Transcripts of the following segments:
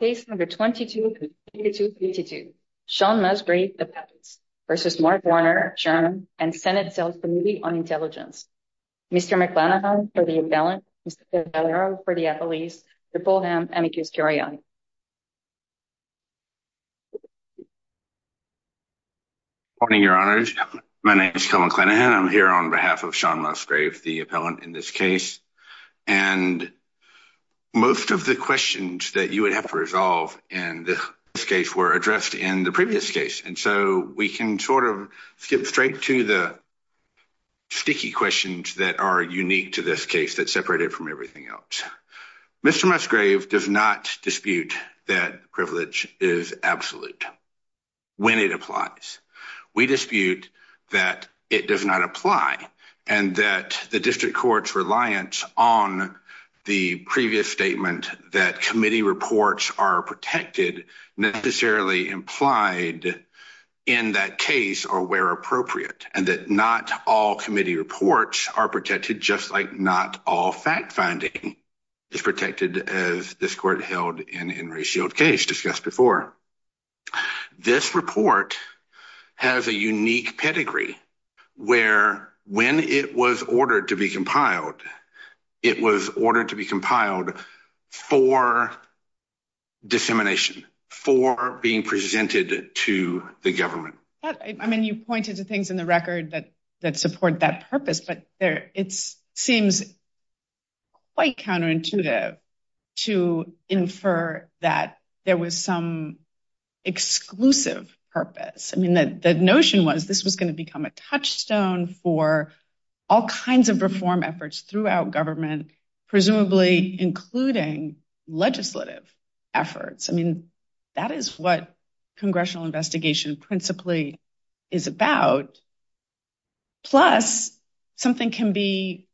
and senate sales committee on intelligence. Mr. McLenahan for the appellant, Mr. Valero for the appellees, Mr. Fulham, and Mr. Kuskiriani. Good morning, your honor. My name is Kel McLenahan. I'm here on behalf of Sean Musgrave, the appellant in this case, and most of the questions that you would have to resolve in this case were addressed in the previous case, and so we can sort of skip straight to the sticky questions that are unique to this case that separate it from everything else. Mr. Musgrave does not dispute that privilege is absolute when it applies. We dispute that it does not apply and that the district court's reliance on the previous statement that committee reports are protected necessarily implied in that case or where appropriate, and that not all committee reports are protected just like all fact-finding is protected as this court held in in Ray Shields case discussed before. This report has a unique pedigree where when it was ordered to be compiled, it was ordered to be compiled for dissemination, for being presented to the government. I mean, you pointed to things in the record that that support that purpose, but it seems quite counterintuitive to infer that there was some exclusive purpose. I mean, the notion was this was going to become a touchstone for all kinds of reform efforts throughout government, presumably including legislative efforts. I mean, that is what can be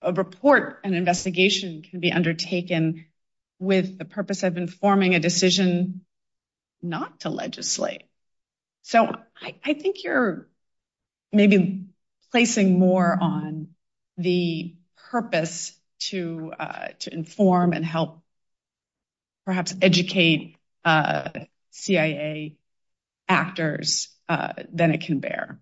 a report, an investigation can be undertaken with the purpose of informing a decision not to legislate. So I think you're maybe placing more on the purpose to inform and help perhaps educate CIA actors than it can bear.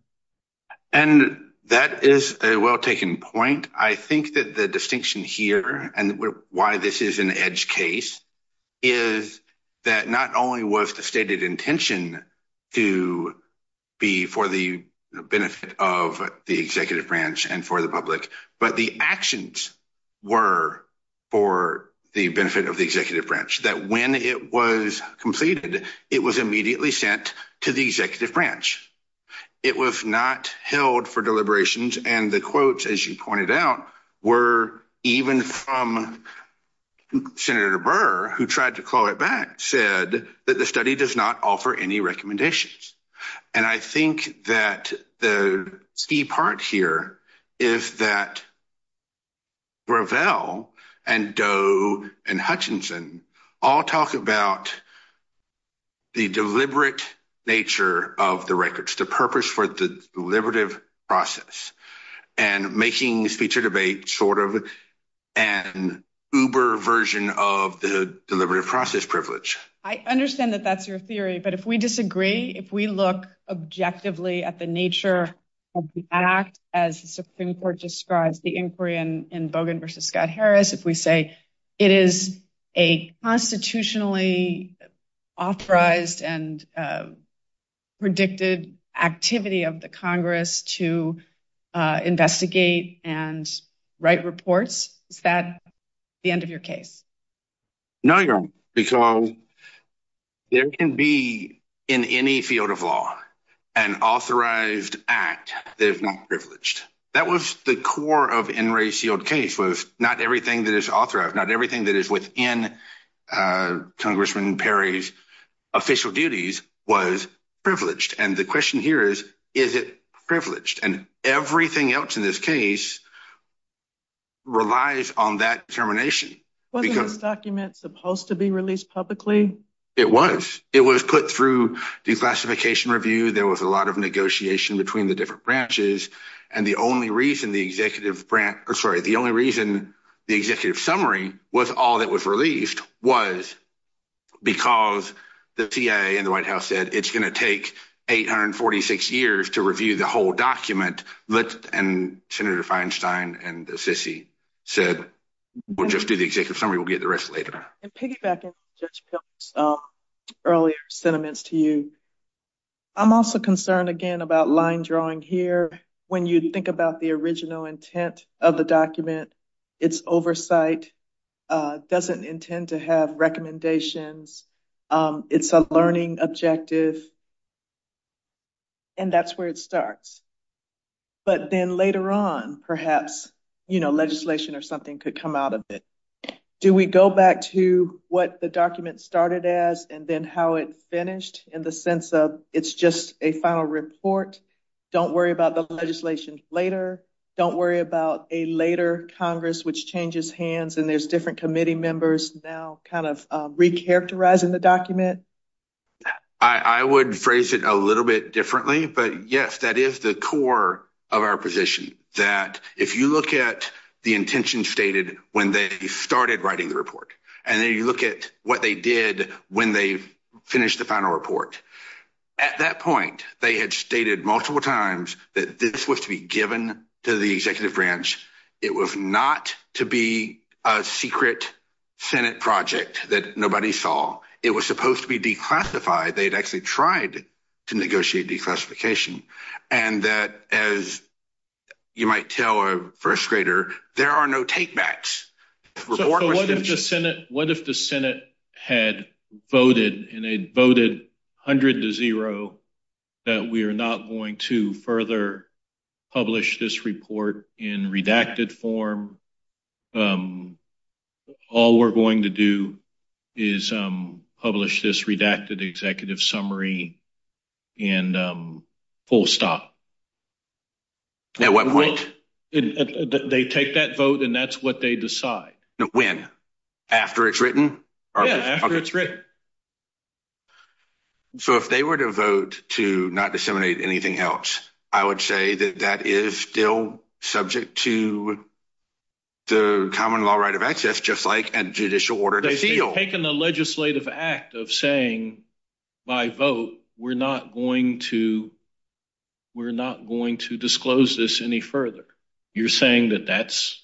And that is a well-taken point. I think that the distinction here and why this is an edge case is that not only was the stated intention to be for the benefit of the executive branch and for the public, but the actions were for the benefit of the executive branch, that when it was completed, it was immediately sent to the executive branch. It was not held for deliberations and the quotes, as you pointed out, were even from Senator Burr, who tried to call it back, said that the study does not offer any recommendations. And I think that the key part here is that Gravel and Doe and Hutchinson all talk about the deliberate nature of the records, the purpose for the deliberative process, and making this feature debate sort of an uber version of the deliberative process privilege. I understand that that's your theory, but if we disagree, if we look objectively at the nature of the act, as the Supreme Court describes the inquiry in Bogan versus Scott Harris, if we say it is a constitutionally authorized and predicted activity of the Congress to investigate and write reports, is that the end of your case? No, Your Honor, because there can be in any field of law an authorized act that is not privileged. That was the core of NRA's sealed case was not everything that is authorized, not everything that is within Congressman Perry's official duties was privileged. And the question here is, is it privileged? And everything else in this case relies on that determination, because this document is supposed to be released publicly. It was. It was put through declassification review. There was a lot of negotiation between the different branches. And the only reason the executive summary was all that was released was because the CIA and the White House said it's going to take 846 years to review the whole summary. We'll get the rest later. And piggybacking on Judge Pilgrim's earlier sentiments to you, I'm also concerned again about line drawing here. When you think about the original intent of the document, its oversight doesn't intend to have recommendations. It's a learning objective. And that's where it starts. But then later on, perhaps, legislation or something could come out of it. Do we go back to what the document started as and then how it finished in the sense of it's just a final report? Don't worry about the legislation later. Don't worry about a later Congress, which changes hands and there's different committee members now kind of recharacterizing the document. I would phrase it a little bit differently. But yes, that is the core of our position, that if you look at the intention stated when they started writing the report, and then you look at what they did when they finished the final report. At that point, they had stated multiple times that this was to be given to the executive branch. It was not to be a secret Senate project that nobody saw. It was supposed to be declassified. They'd actually tried to negotiate declassification. And that, as you might tell a first grader, there are no takebacks. So, what if the Senate had voted, and they voted 100 to zero, that we are not going to further publish this report in redacted form? Um, all we're going to do is publish this redacted executive summary and full stop. At what point? They take that vote, and that's what they decide. When? After it's written? Yeah, after it's written. So, if they were to vote to not disseminate anything else, I would say that that is still subject to the common law right of access, just like a judicial order. They've taken the legislative act of saying, by vote, we're not going to, we're not going to disclose this any further. You're saying that that's,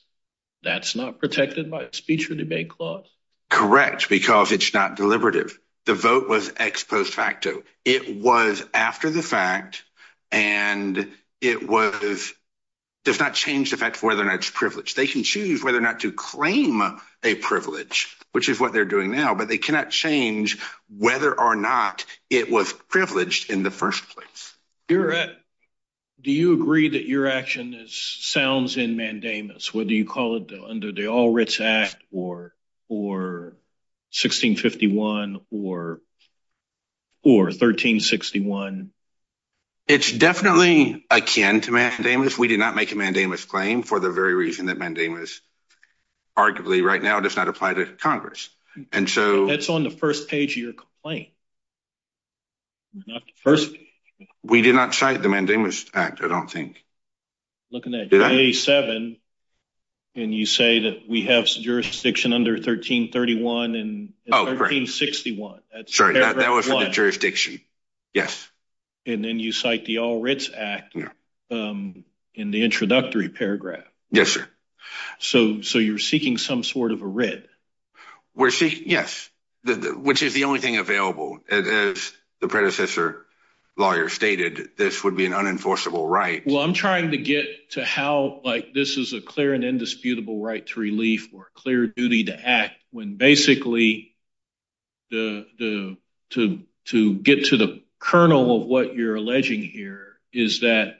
that's not protected by a speech or debate clause? Correct, because it's not deliberative. The vote was ex post facto. It was after the fact, and it was, does not change the fact of whether or not it's privileged. They can choose whether or not to claim a privilege, which is what they're doing now, but they cannot change whether or not it was privileged in the first place. Do you agree that your action is, sounds in mandamus, whether you call it under the All It's definitely akin to mandamus. We did not make a mandamus claim for the very reason that mandamus, arguably, right now, does not apply to Congress. And so, That's on the first page of your complaint. We did not cite the mandamus act, I don't think. Looking at page seven, and you say that we have jurisdiction under 1331 and 1361. Sorry, that was the jurisdiction. Yes. And then you cite the All Writs Act in the introductory paragraph. Yes, sir. So, so you're seeking some sort of a writ? We're seeking, yes, which is the only thing available. As the predecessor lawyer stated, this would be an unenforceable right. Well, I'm trying to get to how, like, this is a clear and indisputable right to relief or clear duty to act when basically the, to, to get to the kernel of what you're alleging here is that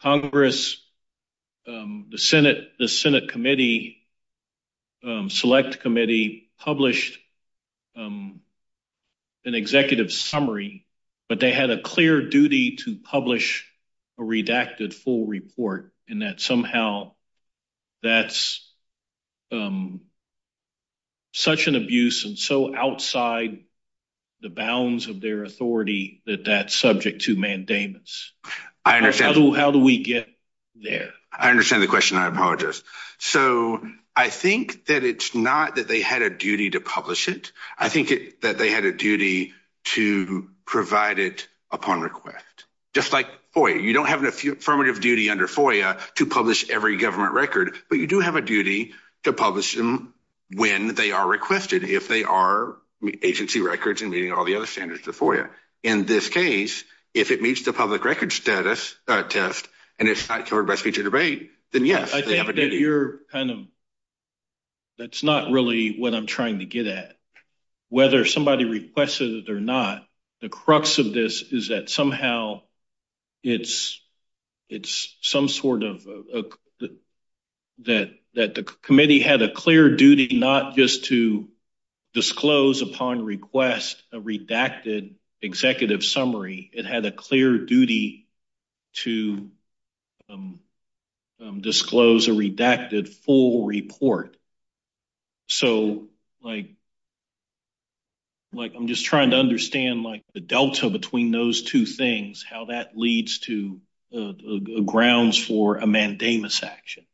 Congress, the Senate, the Senate committee, select committee published an executive summary, but they had a clear duty to publish a redacted full report and that somehow that's um, such an abuse and so outside the bounds of their authority that that's subject to mandamus. I understand. How do we get there? I understand the question. I apologize. So, I think that it's not that they had a duty to publish it. I think that they had a duty to provide it upon request, just like, boy, you don't have an affirmative duty under FOIA to publish every government record, but you do have a duty to publish them when they are requested, if they are agency records and meeting all the other standards of FOIA. In this case, if it meets the public record status test and it's not covered by speech or debate, then yes, they have a duty. I think that you're kind of, that's not really what I'm trying to get at. Whether somebody requested it or not, the crux of this is that some sort of, that the committee had a clear duty not just to disclose upon request a redacted executive summary. It had a clear duty to disclose a redacted full report. So, like, like, I'm just trying to understand, like, the delta between those two things, how that leads to grounds for a mandamus action.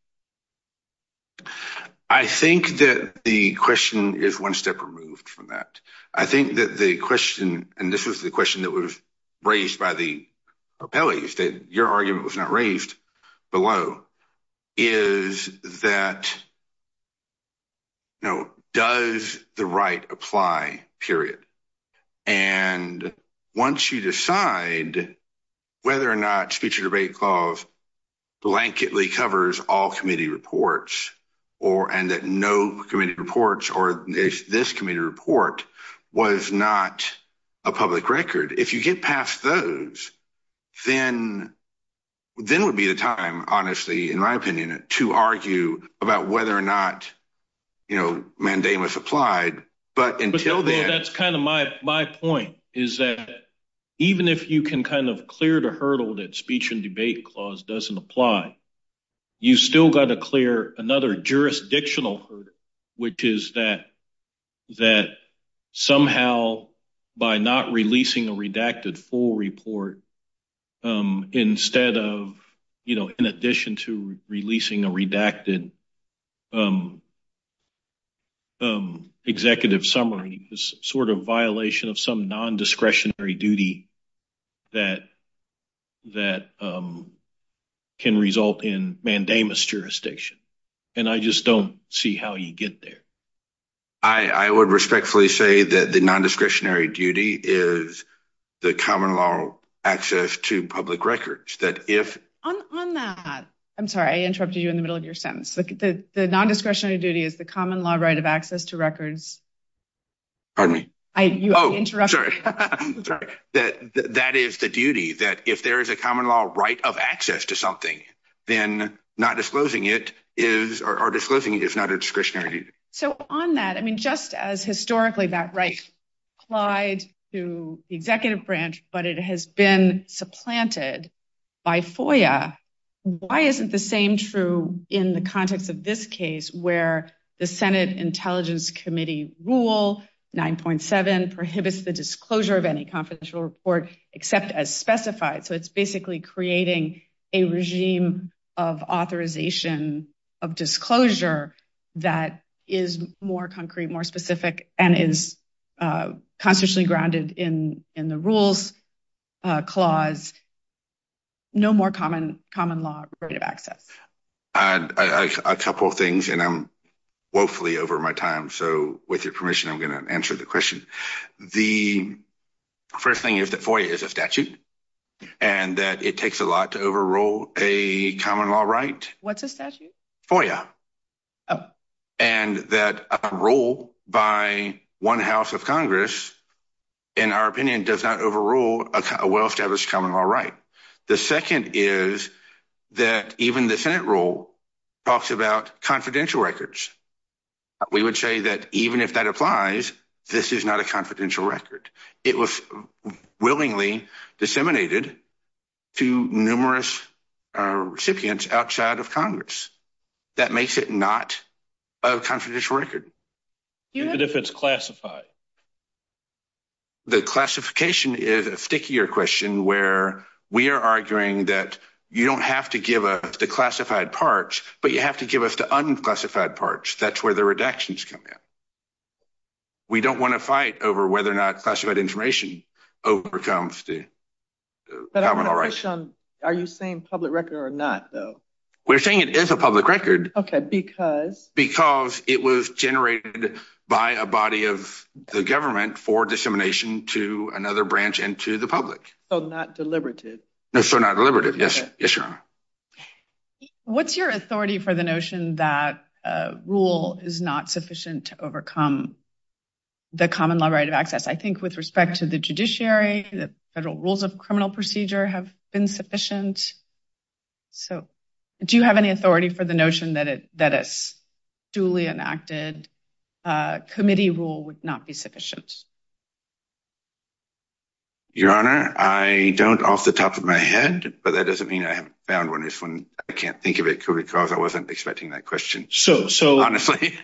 I think that the question is one step removed from that. I think that the question, and this was the question that was raised by the appellees, that your argument was not raised below, is that, you know, does the right apply, period. And once you decide whether or not speech or debate clause blanketly covers all committee reports, or, and that no committee reports, or if this committee report was not a public record, if you get past those, then, then would be the time, honestly, in my opinion, to argue about whether or not, you know, mandamus applied. But until then, that's kind of my, my point is that even if you can kind of clear the hurdle that speech and debate clause doesn't apply, you still got to clear another jurisdictional hurdle, which is that, that somehow, by not releasing a redacted full report, instead of, you know, in addition to releasing a redacted executive summary, is sort of violation of some non-discretionary duty that, that can result in mandamus jurisdiction. And I just don't see how you get there. I, I would respectfully say that the non-discretionary duty is the common law access to public records, that if. On, on that, I'm sorry, I interrupted you in the middle of your sentence. The non-discretionary duty is the common law right of access to records. Pardon me? Oh, sorry. That, that is the duty that if there is a common law right of access to something, then not disclosing it is, or disclosing it is not a discretionary duty. So on that, I mean, just as historically that right applied to the executive branch, but it has been supplanted by FOIA. Why isn't the same true in the context of this case where the Senate Intelligence Committee rule 9.7 prohibits the disclosure of any confidential report except as specified. So it's basically creating a regime of authorization of disclosure that is more concrete, more specific, and is constitutionally grounded in, in the rules clause. No more common, common law right of access. I, I, a couple of things, and I'm woefully over my time. So with your permission, I'm going to answer the question. The first thing is that FOIA is a statute, and that it takes a lot to overrule a common law right. What's a and that a rule by one house of Congress, in our opinion, does not overrule a well-established common law right. The second is that even the Senate rule talks about confidential records. We would say that even if that applies, this is not a confidential record. It was willingly disseminated to numerous recipients outside of Congress. That makes it not a confidential record. Even if it's classified? The classification is a stickier question where we are arguing that you don't have to give us the classified parts, but you have to give us the unclassified parts. That's where the redactions come in. We don't want to fight over whether or not classified information overcomes the common law rights. But I want to push on, are you saying public record or not, though? We're saying it is a public record. Okay, because? Because it was generated by a body of the government for dissemination to another branch and to the public. So not deliberative? No, so not deliberative. Yes, yes, Your Honor. What's your authority for the notion that a rule is not sufficient to overcome the common law right of access? I think with respect to the judiciary, the federal rules of criminal procedure have been sufficient. So do you have any authority for the notion that a duly enacted committee rule would not be sufficient? Your Honor, I don't off the top of my head, but that doesn't mean I haven't found one. It's when I can't think of it because I wasn't expecting that question. So, so honestly,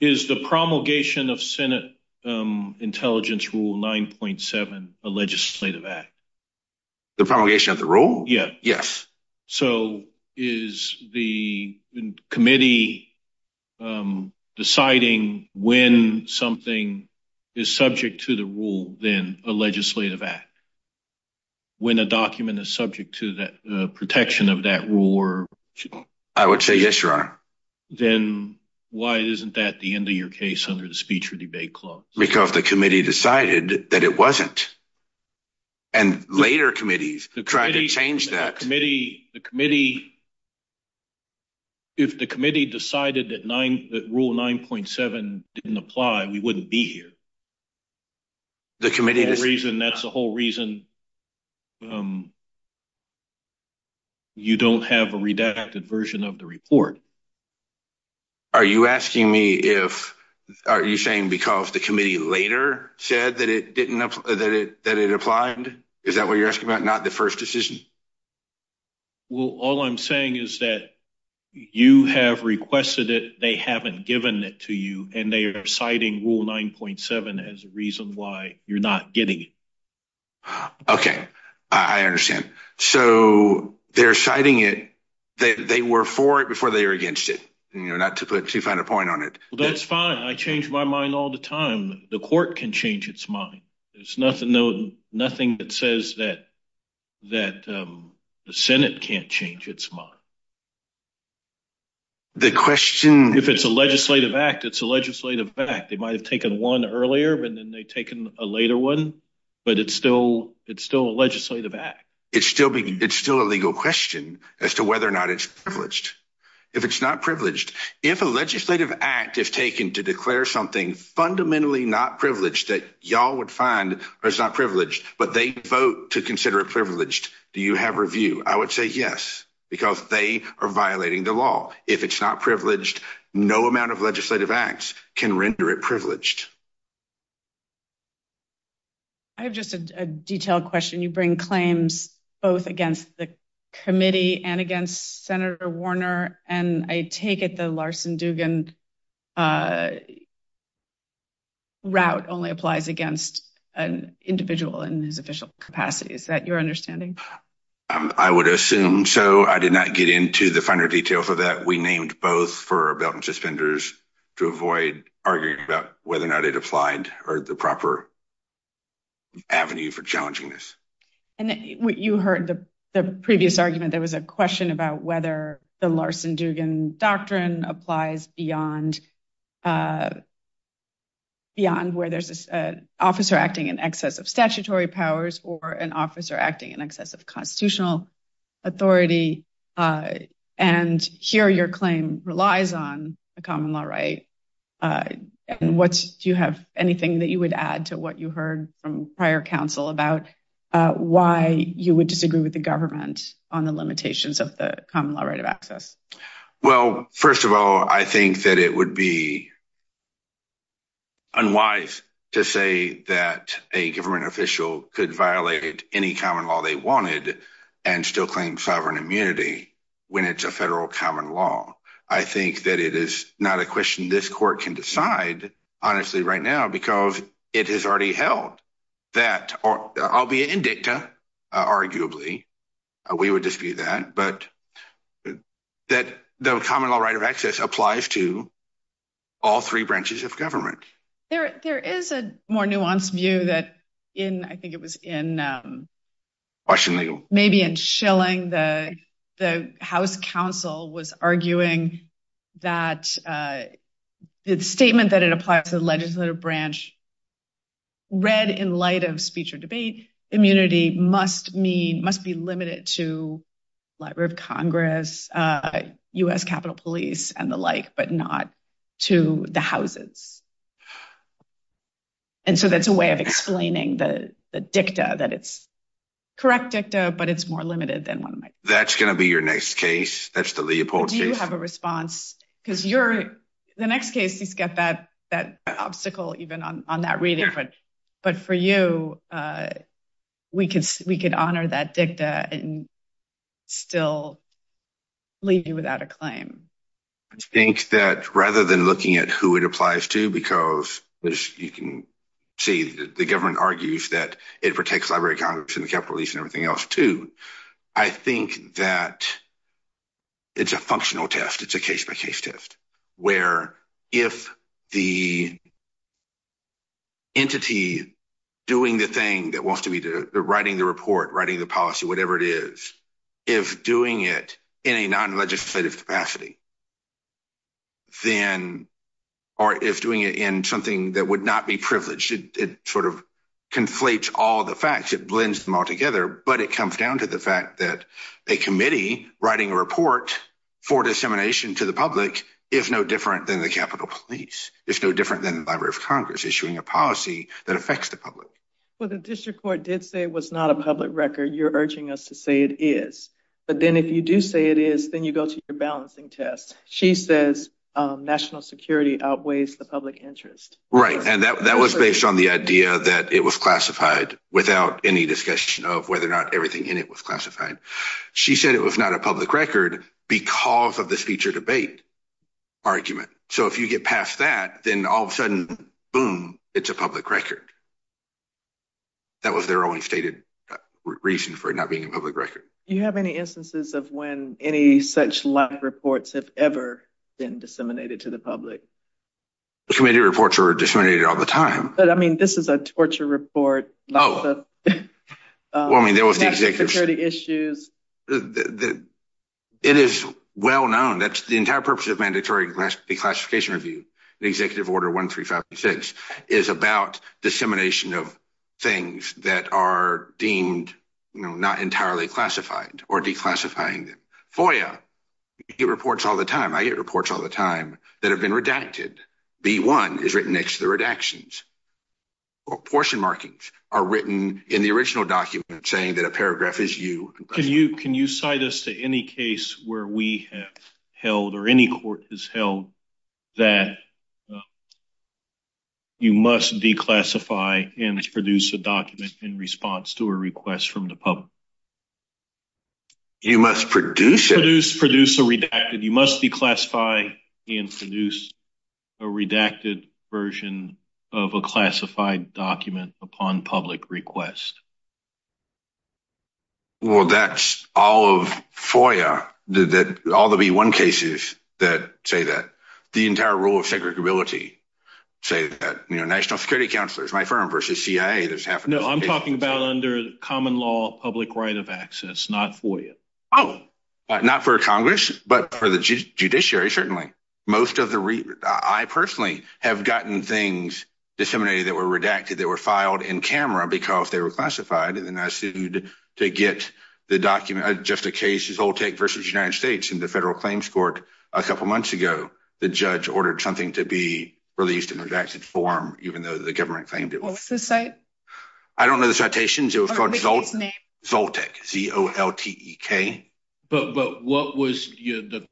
is the promulgation of Senate Intelligence Rule 9.7 a legislative act? The promulgation of the rule? Yeah, yes. So is the committee deciding when something is subject to the rule, then a legislative act? When a document is subject to the protection of that rule? I would say yes, Your Honor. Then why isn't that the end of your case under the speech or debate clause? Because the committee decided that it wasn't. And later committees tried to change that. The committee, if the committee decided that rule 9.7 didn't apply, we wouldn't be here. The committee. That's the whole reason you don't have a redacted version of the report. Are you asking me if, are you saying because the committee later said that it didn't, that it applied? Is that what you're asking about? Not the first decision? Well, all I'm saying is that you have requested it. They haven't given it to you. And they are citing Rule 9.7 as a reason why you're not getting it. Okay. I understand. So they're citing it. They were for it before they were against it. You know, not to put too fine a point on it. That's fine. I change my mind all the time. The court can change its mind. There's nothing that says that the Senate can't change its mind. The question. If it's a legislative act, it's a legislative act. They might have taken one earlier, and then they've taken a later one. But it's still a legislative act. It's still a legal question as to whether or not it's privileged. If it's not privileged, if a legislative act is taken to declare something fundamentally not privileged that y'all would find it's not privileged, but they vote to consider it privileged, do you have review? I would say yes, because they are violating the law. If it's not privileged, no amount of legislative acts can render it privileged. I have just a detailed question. You bring claims both against the committee and against Senator Warner, and I take it the Larson-Dugan route only applies against an individual in his official capacity. Is that your understanding? I would assume so. I did not get into the finer detail for that. We named both for belt and suspenders to avoid arguing about whether or not it applied or the proper avenue for challenging this. You heard the previous argument. There was a question about whether the Larson-Dugan doctrine applies beyond where there's an officer acting in excess of statutory powers or an officer acting in excess of constitutional authority. Here, your claim relies on a common law right. Do you have anything that you would add to what you heard from prior counsel about why you would disagree with the government on the limitations of the common law right of access? Well, first of all, I think that it would be unwise to say that a government official could violate any common law they wanted and still claim sovereign immunity when it's a federal common law. I think that it is not a court can decide, honestly, right now because it has already held that, albeit indicta, arguably, we would dispute that, but that the common law right of access applies to all three branches of government. There is a more nuanced view that in, I think it was in maybe in Schilling, the House counsel was arguing that the statement that it applies to the legislative branch, read in light of speech or debate, immunity must be limited to Library of Congress, U.S. Capitol Police, and the like, but not to the houses. And so that's a way of explaining the dicta, that it's correct dicta, but it's more limited than one might think. That's going to be your next case. That's the Leopold case. Do you have a response? Because the next case, he's got that obstacle even on that reading, but for you, we could honor that dicta and still leave you without a claim. I think that rather than looking at who it applies to, because, as you can see, the government argues that it protects Library of Congress and the Capitol Police and everything else too. I think that it's a functional test. It's a case-by-case test, where if the entity doing the thing that wants to be the writing the report, writing the policy, whatever it is, if doing it in a non-legislative capacity, or if doing it in something that would not be privileged, it sort of conflates all the facts, it blends them all together, but it comes down to the fact that a committee writing a report for dissemination to the public is no different than the Capitol Police. It's no different than the Library of Congress issuing a policy that affects the public. Well, the district court did say it was not a public record. You're urging us to say it is, but then if you do say it is, then you go to your balancing test. She says national security outweighs the public interest. Right, and that was based on the idea that it was classified without any discussion of whether or not everything in it was classified. She said it was not a public record because of this future debate argument. So if you get past that, then all of a sudden, boom, it's a public record. That was their only stated reason for it not being a public record. Do you have any instances of when any such live reports have ever been disseminated to the public? The committee reports are disseminated all the time. But I mean, this is a torture report. Lots of national security issues. It is well known that the entire purpose of mandatory declassification review, Executive Order 1356, is about dissemination of things that are deemed not entirely classified or declassifying them. FOIA, you get reports all the time. I get reports all the time that have been redacted. B1 is written next to the redactions. Portion markings are written in the original document saying that a paragraph is you. Can you cite us to any case where we have held or any court has held that you must declassify and produce a document in response to a request from the public? You must produce it. Produce a redacted. You must declassify and produce a redacted version of a classified document upon public request. Well, that's all of FOIA. All the B1 cases that say that. The entire rule of segregability say that. National Security Counselor is my firm versus CIA. No, I'm talking about under common law, public right of access, not FOIA. Oh, not for Congress, but for the judiciary, certainly. Most of the... I personally have gotten things disseminated that were redacted that were filed in camera because they were classified. And then I sued to get the document, just a case Zoltek versus United States in the Federal Claims Court a couple months ago. The judge ordered something to be released in redacted form, even though the government claimed it was. What's the site? I don't know the citations. It was called Zoltek, Z-O-L-T-E-K. But what was the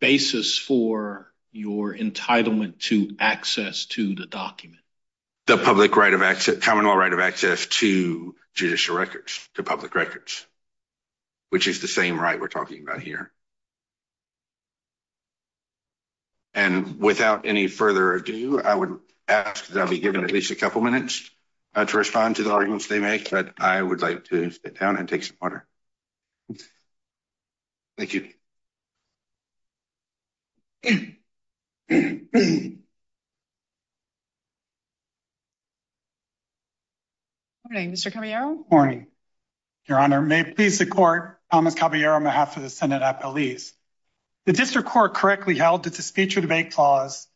basis for your entitlement to access to the document? The public right of access, common law right of access to judicial records, to public records, which is the same right we're talking about here. And without any further ado, I would ask that I'll be given at least a couple minutes to respond to the arguments they make, but I would like to sit down and take some water. Thank you. Good morning, Mr. Caballero. Morning, Your Honor. May it please the Court, Thomas Caballero on behalf of the Senate Appellees. The District Court correctly held that the speech or debate clause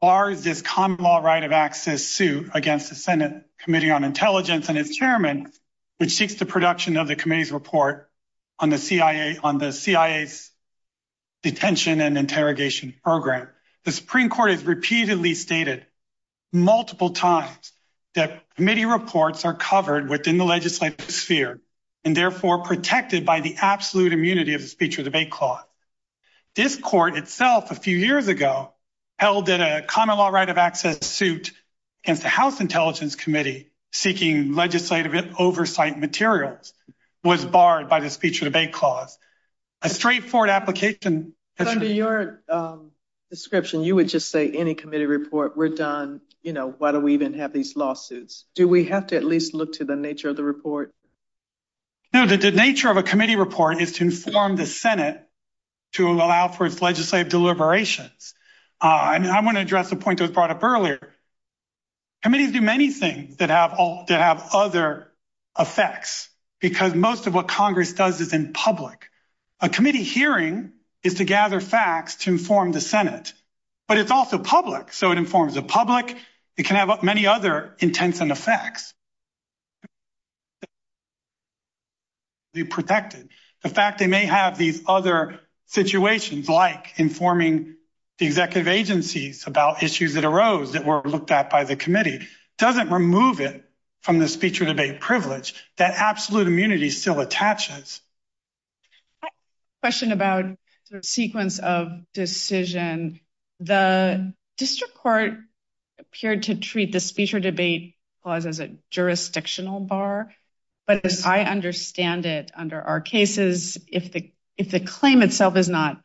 bars this common law right of access suit against the Senate Committee on Intelligence and its chairman, which seeks the production of the committee's report on the CIA's detention and multiple times that committee reports are covered within the legislative sphere, and therefore protected by the absolute immunity of the speech or debate clause. This Court itself a few years ago held that a common law right of access suit against the House Intelligence Committee, seeking legislative oversight materials, was barred by the speech or debate clause. A straightforward application... You would just say any committee report, we're done. Why do we even have these lawsuits? Do we have to at least look to the nature of the report? No, the nature of a committee report is to inform the Senate to allow for its legislative deliberations. I want to address a point that was brought up earlier. Committees do many things that have other effects, because most of what Congress does is in public. A committee hearing is to but it's also public, so it informs the public. It can have many other intents and effects. They're protected. The fact they may have these other situations, like informing the executive agencies about issues that arose that were looked at by the committee, doesn't remove it from the speech or debate privilege that absolute immunity still attaches. I have a question about the sequence of decision. The district court appeared to treat the speech or debate clause as a jurisdictional bar, but as I understand it under our cases, if the claim itself is not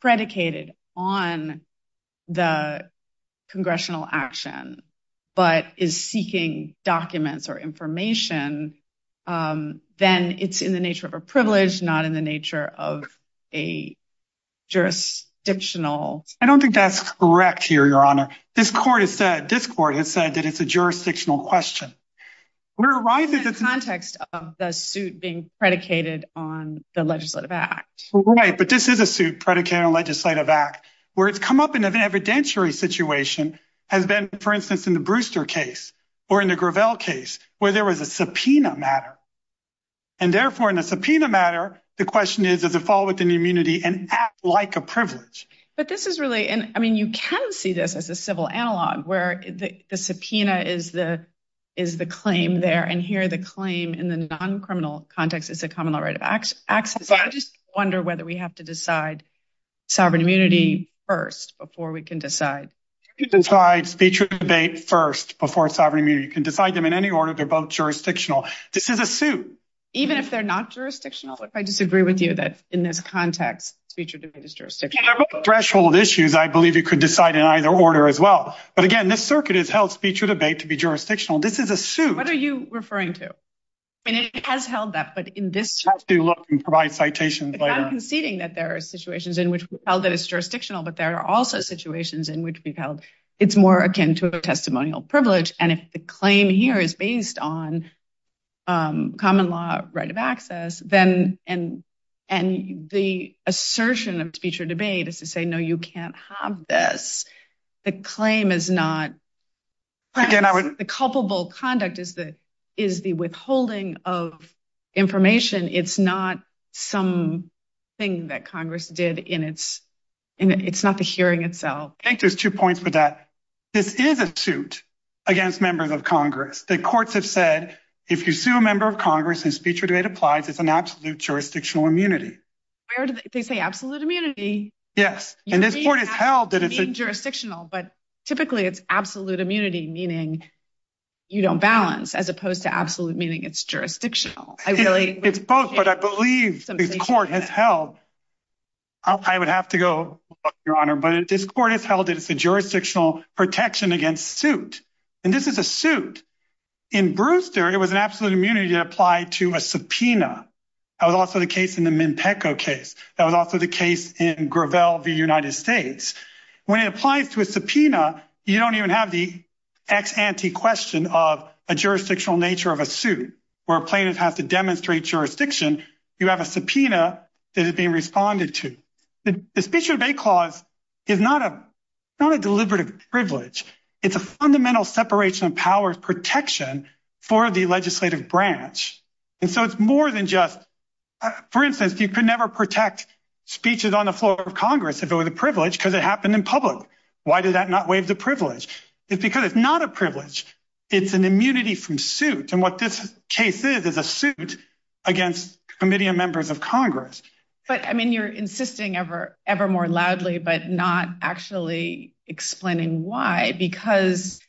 predicated on the congressional action, but is seeking documents or information, then it's in the nature of a privilege, not in the nature of a jurisdictional. I don't think that's correct here, Your Honor. This court has said that it's a jurisdictional question. It's in the context of the suit being predicated on the legislative act. Right, but this is a suit predicated on the legislative act, where it's come up in an evidentiary situation has been, for instance, in the Brewster case or in the Gravel case, where there was a subpoena matter. Therefore, in a subpoena matter, the question is, does it fall within the immunity and act like a privilege? But this is really, I mean, you can see this as a civil analog, where the subpoena is the claim there, and here the claim in the non-criminal context is a common law right of access. I just wonder whether we have to decide sovereign immunity first, before we can decide. You can decide speech or debate first, before sovereign immunity. You can decide them in any order. They're both jurisdictional. This is a suit. Even if they're not jurisdictional? What if I disagree with you that, in this context, speech or debate is jurisdictional? They're both threshold issues. I believe you could decide in either order as well. But again, this circuit has held speech or debate to be jurisdictional. This is a suit. What are you referring to? I mean, it has held that, but in this case— You have to look and provide citations later. I'm conceding that there are situations in which we've held that it's jurisdictional, but there are also situations in which we've held it's more akin to a testimonial privilege. And if the claim here is based on common law right of access, and the assertion of speech or debate is to say, no, you can't have this, the claim is not— Again, I would— The culpable conduct is the withholding of information. It's not something that Congress did in its—it's not the hearing itself. I think there's two points with that. This is a suit against members of Congress. The courts have said if you sue a member of Congress and speech or debate applies, it's an absolute jurisdictional immunity. Where do they say absolute immunity? Yes. And this court has held that it's— You mean jurisdictional, but typically it's absolute immunity, meaning you don't balance, as opposed to absolute, meaning it's jurisdictional. It's both, but I believe this court has held—I would have to go, Your Honor, but this court has held that it's a jurisdictional protection against suit. And this is a suit. In Brewster, it was an absolute immunity that applied to a subpoena. That was also the case in the Mimpeco case. That was also the case in Gravel v. United States. When it applies to a subpoena, you don't even have the ex ante question of a jurisdictional nature of a suit, where a plaintiff has to demonstrate jurisdiction. You have a subpoena that is being responded to. The speech or debate clause is not a deliberative privilege. It's a fundamental separation of powers protection for the legislative branch. And so it's more than just—for instance, you could never protect speeches on the floor of Congress if it was a privilege because it happened in public. Why did that not waive the privilege? It's because it's not a privilege. It's an immunity from suit. And what this case is, is a suit against a committee of members of Congress. But, I mean, you're insisting ever, ever more loudly, but not actually explaining why, because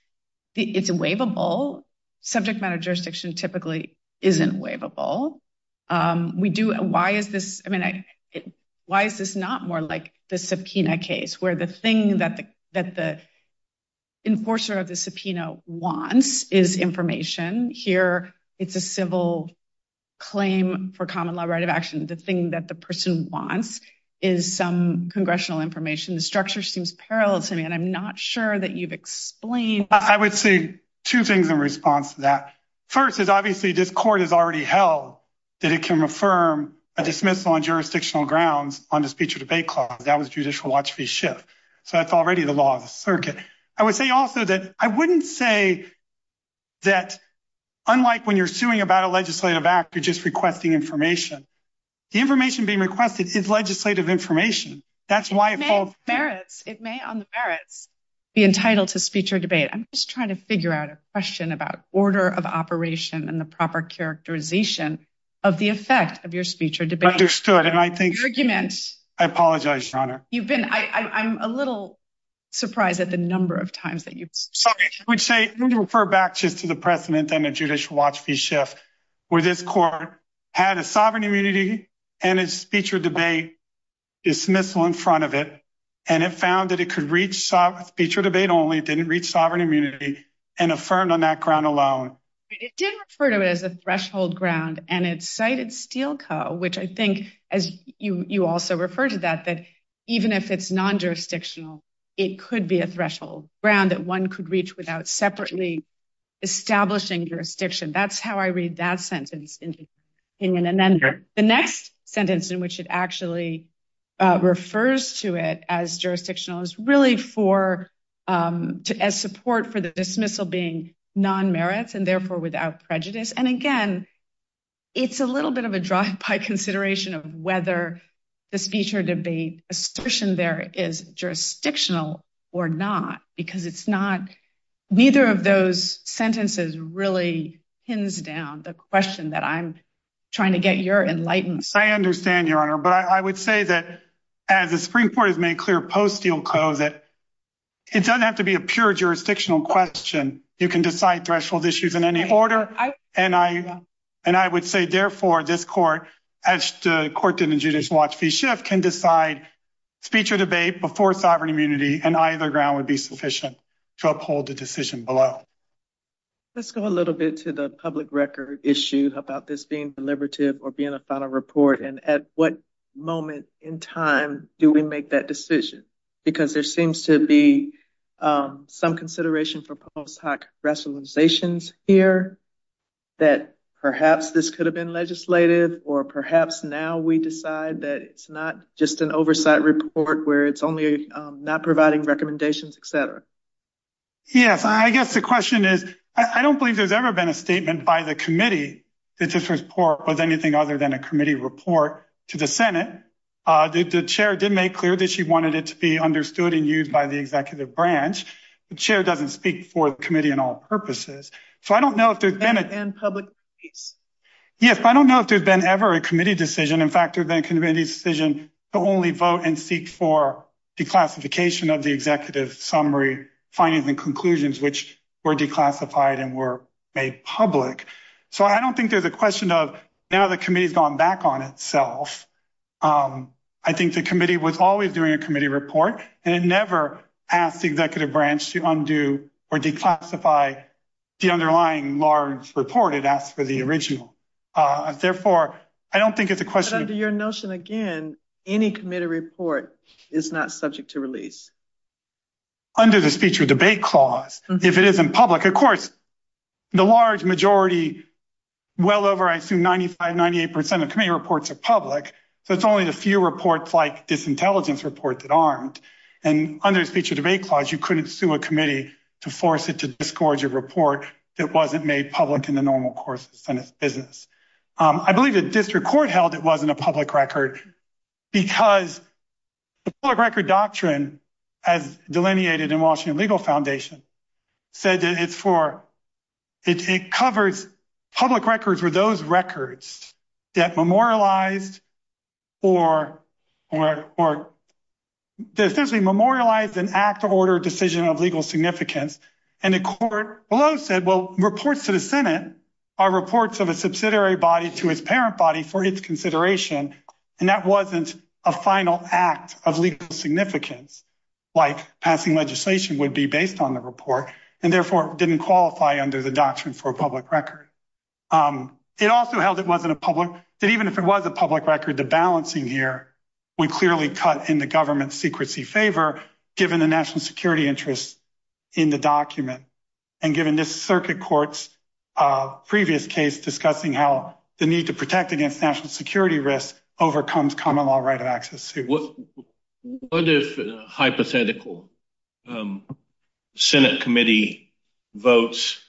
it's waivable. Subject matter jurisdiction typically isn't waivable. Why is this not more like the subpoena case, where the thing that the enforcer of the subpoena wants is information? Here, it's a civil claim for common law right of action. The thing that the person wants is some congressional information. The structure seems parallel to me, and I'm not sure that you've explained. I would say two things in response to that. First is, obviously, this court has already held that it can affirm a dismissal on jurisdictional grounds on the speech or debate clause. That was Judicial Watch v. Schiff. So that's already the law of the circuit. I would say also that I wouldn't say that, unlike when you're suing about a legislative act, you're just requesting information. The information being requested is legislative information. That's why it falls. It may, on the merits, be entitled to speech or debate. I'm just trying to figure out a question about order of operation and the proper characterization of the effect of your speech or debate. Understood, and I think- Argument. I apologize, Your Honor. You've been, I'm a little surprised at the number of times that you've- Sorry, I would say, let me refer back just to the precedent under Judicial Watch v. Schiff, where this court had a sovereign immunity and a speech or debate dismissal in front of it, and it found that it could reach speech or debate only, it didn't reach sovereign immunity, and affirmed on that ground alone. It did refer to it as a threshold ground, and it cited Steele Co., which I think, as you also referred to that, that even if it's non-jurisdictional, it could be a threshold ground that one could reach without separately establishing jurisdiction. That's how I read that sentence in my opinion, and then the next sentence in which it actually refers to it as jurisdictional is really for, as support for the dismissal being non-merits and therefore without prejudice, and again, it's a little bit of a drive-by consideration of whether the speech or debate assertion there is jurisdictional or not, because it's neither of those sentences really pins down the question that I'm trying to get your enlightenment. I understand, Your Honor, but I would say that, as the Supreme Court has made clear post-Steele Co., that it doesn't have to be a pure jurisdictional question. You can decide threshold issues in any order, and I would say, therefore, this court, as the court did in Judicial Watch v. Schiff, can decide speech or debate before sovereign immunity, and either ground would be sufficient to uphold the decision below. Let's go a little bit to the public record issue about this being deliberative or being a final report, and at what moment in time do we make that decision? Because there seems to be some consideration for post-hoc rationalizations here, that perhaps this could have been legislative or perhaps now we decide that it's not just an oversight report where it's only not providing recommendations, et cetera. Yes, I guess the question is, I don't believe there's ever been a statement by the committee that this report was anything other than a committee report to the Senate. The chair did make clear that she wanted it to be understood and used by the executive branch. The chair doesn't speak for the committee in all purposes, so I don't know if there's been a... And public release. Yes, I don't know if there's been ever a committee decision. In fact, there's been a committee decision to only vote and seek for declassification of the executive summary, findings, and conclusions, which were declassified and were made public. So I don't think there's a question of now the committee's gone back on itself. I think the committee was always doing a committee report, and it never asked the executive branch to undo or declassify the underlying large report. It asked for the original. Therefore, I don't think it's a question of... But under your notion, again, any committee report is not subject to release. Under the Speech or Debate Clause, if it isn't public... Of course, the large majority, well over, I assume, 95, 98% of committee reports are public, so it's only the few reports like this intelligence report that aren't. And under the Speech or Debate Clause, you couldn't sue a committee to force it to disgorge a report that wasn't made public in the normal course of the Senate's business. I believe the district court held it wasn't a public record because the public record doctrine, as delineated in the Washington Legal Foundation, said that it's for... It covers public records for those records that memorialized or essentially memorialized an act or order decision of legal significance. And the court below said, well, reports to the Senate are reports of a subsidiary body to its parent body for its consideration, and that wasn't a final act of legal significance, like passing legislation would be based on the report, and therefore didn't qualify under the doctrine for a public record. It also held it wasn't a public... That even if it was a public record, the balancing here would clearly cut in the government's secrecy favor, given the national security interests in the document, and given this circuit court's previous case discussing how the need to protect against national security risks overcomes common law right of access. What if a hypothetical Senate committee votes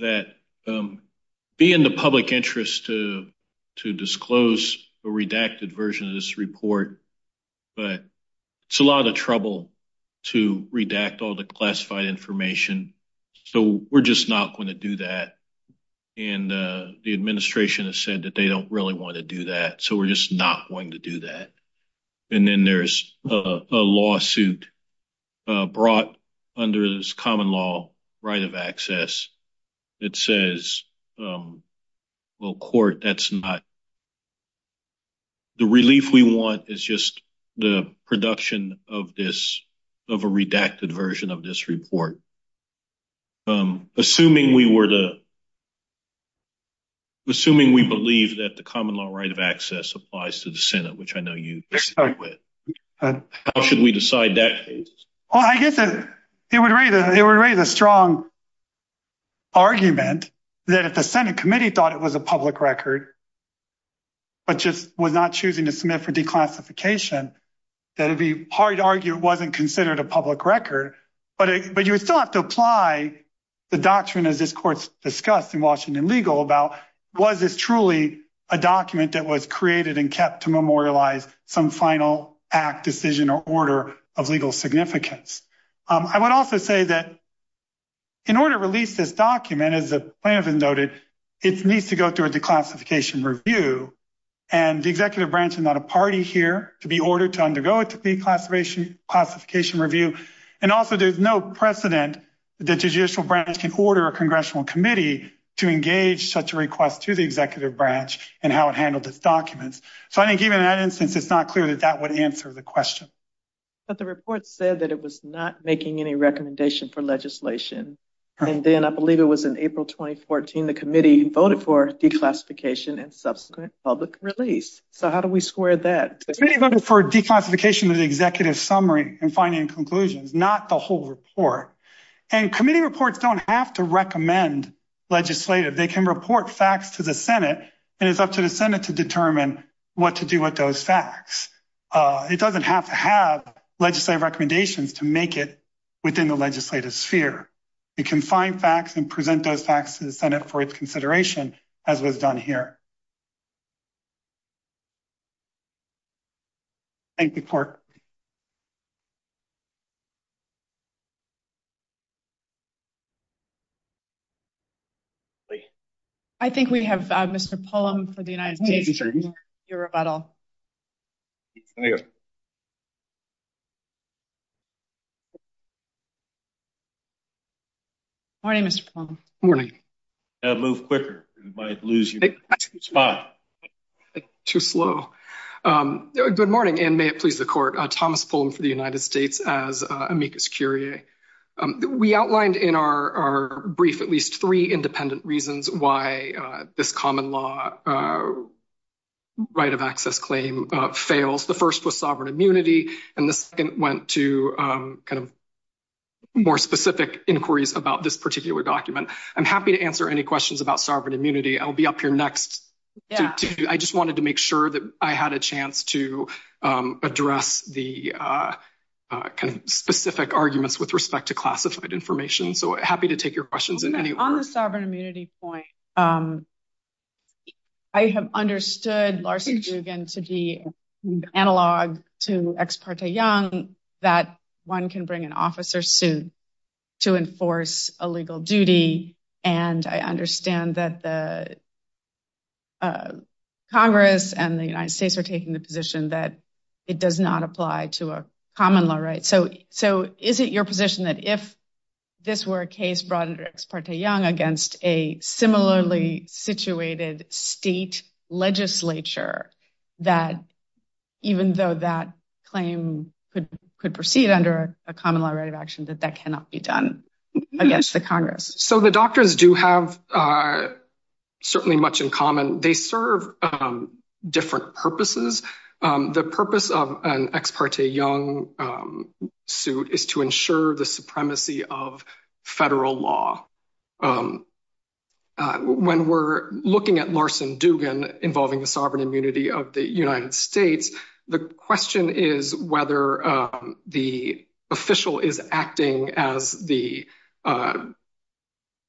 that be in the public interest to disclose a redacted version of this report, but it's a lot of trouble to redact all the classified information, so we're just not going to do that. And the administration has said that they don't really want to do that, so we're just not going to do that. And then there's a lawsuit brought under this common law right of access that says, well, court, that's not... The relief we want is just the production of this, of a redacted version of this report. Assuming we were to... Which I know you disagree with. How should we decide that case? Well, I guess it would raise a strong argument that if the Senate committee thought it was a public record, but just was not choosing to submit for declassification, that it'd be hard to argue it wasn't considered a public record. But you would still have to apply the doctrine, as this discussed in Washington Legal, about was this truly a document that was created and kept to memorialize some final act, decision, or order of legal significance. I would also say that in order to release this document, as the plaintiff has noted, it needs to go through a declassification review. And the executive branch is not a party here to be ordered to undergo a declassification review. And also, there's no precedent that the judicial branch can order a congressional committee to engage such a request to the executive branch and how it handled its documents. So I think even in that instance, it's not clear that that would answer the question. But the report said that it was not making any recommendation for legislation. And then I believe it was in April 2014, the committee voted for declassification and subsequent public release. So how do we square that? The committee voted for declassification of the executive summary and finding conclusions, not the whole report. And committee reports don't have to recommend legislative. They can report facts to the Senate, and it's up to the Senate to determine what to do with those facts. It doesn't have to have legislative recommendations to make it within the legislative sphere. It can find facts and present those facts to the committee. I think we have Mr. Pullum for the United States. Good morning, Mr. Pullum. Good morning. You have to move quicker. You might lose your spot. Too slow. Good morning, and may it please the court. Thomas Pullum for the United States as our brief, at least three independent reasons why this common law right of access claim fails. The first was sovereign immunity, and the second went to kind of more specific inquiries about this particular document. I'm happy to answer any questions about sovereign immunity. I'll be up here next. I just wanted to make sure that I had a chance to address the kind of specific arguments with respect to classified information. So happy to take your questions in any order. On the sovereign immunity point, I have understood Larson-Dugan to be analog to Ex parte Young, that one can bring an officer suit to enforce a legal duty. And I understand that the Congress and the United States are taking the position that it does not apply to a common law right. So is it your position that if this were a case brought under Ex parte Young against a similarly situated state legislature, that even though that claim could proceed under a common law right of action, that that cannot be done against the Congress? So the doctors do have certainly much in common. They serve different purposes. The purpose of an Ex parte Young suit is to ensure the supremacy of federal law. When we're looking at Larson-Dugan involving the sovereign immunity of the United States, the question is whether the official is acting as the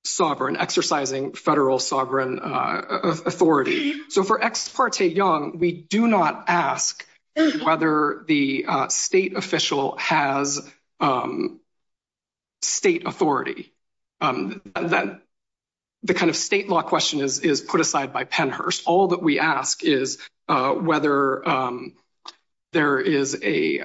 sovereign, exercising federal sovereign authority. So for Ex parte Young, we do not ask whether the state official has state authority. The kind of state law question is put aside by Pennhurst. All that we ask is whether there is a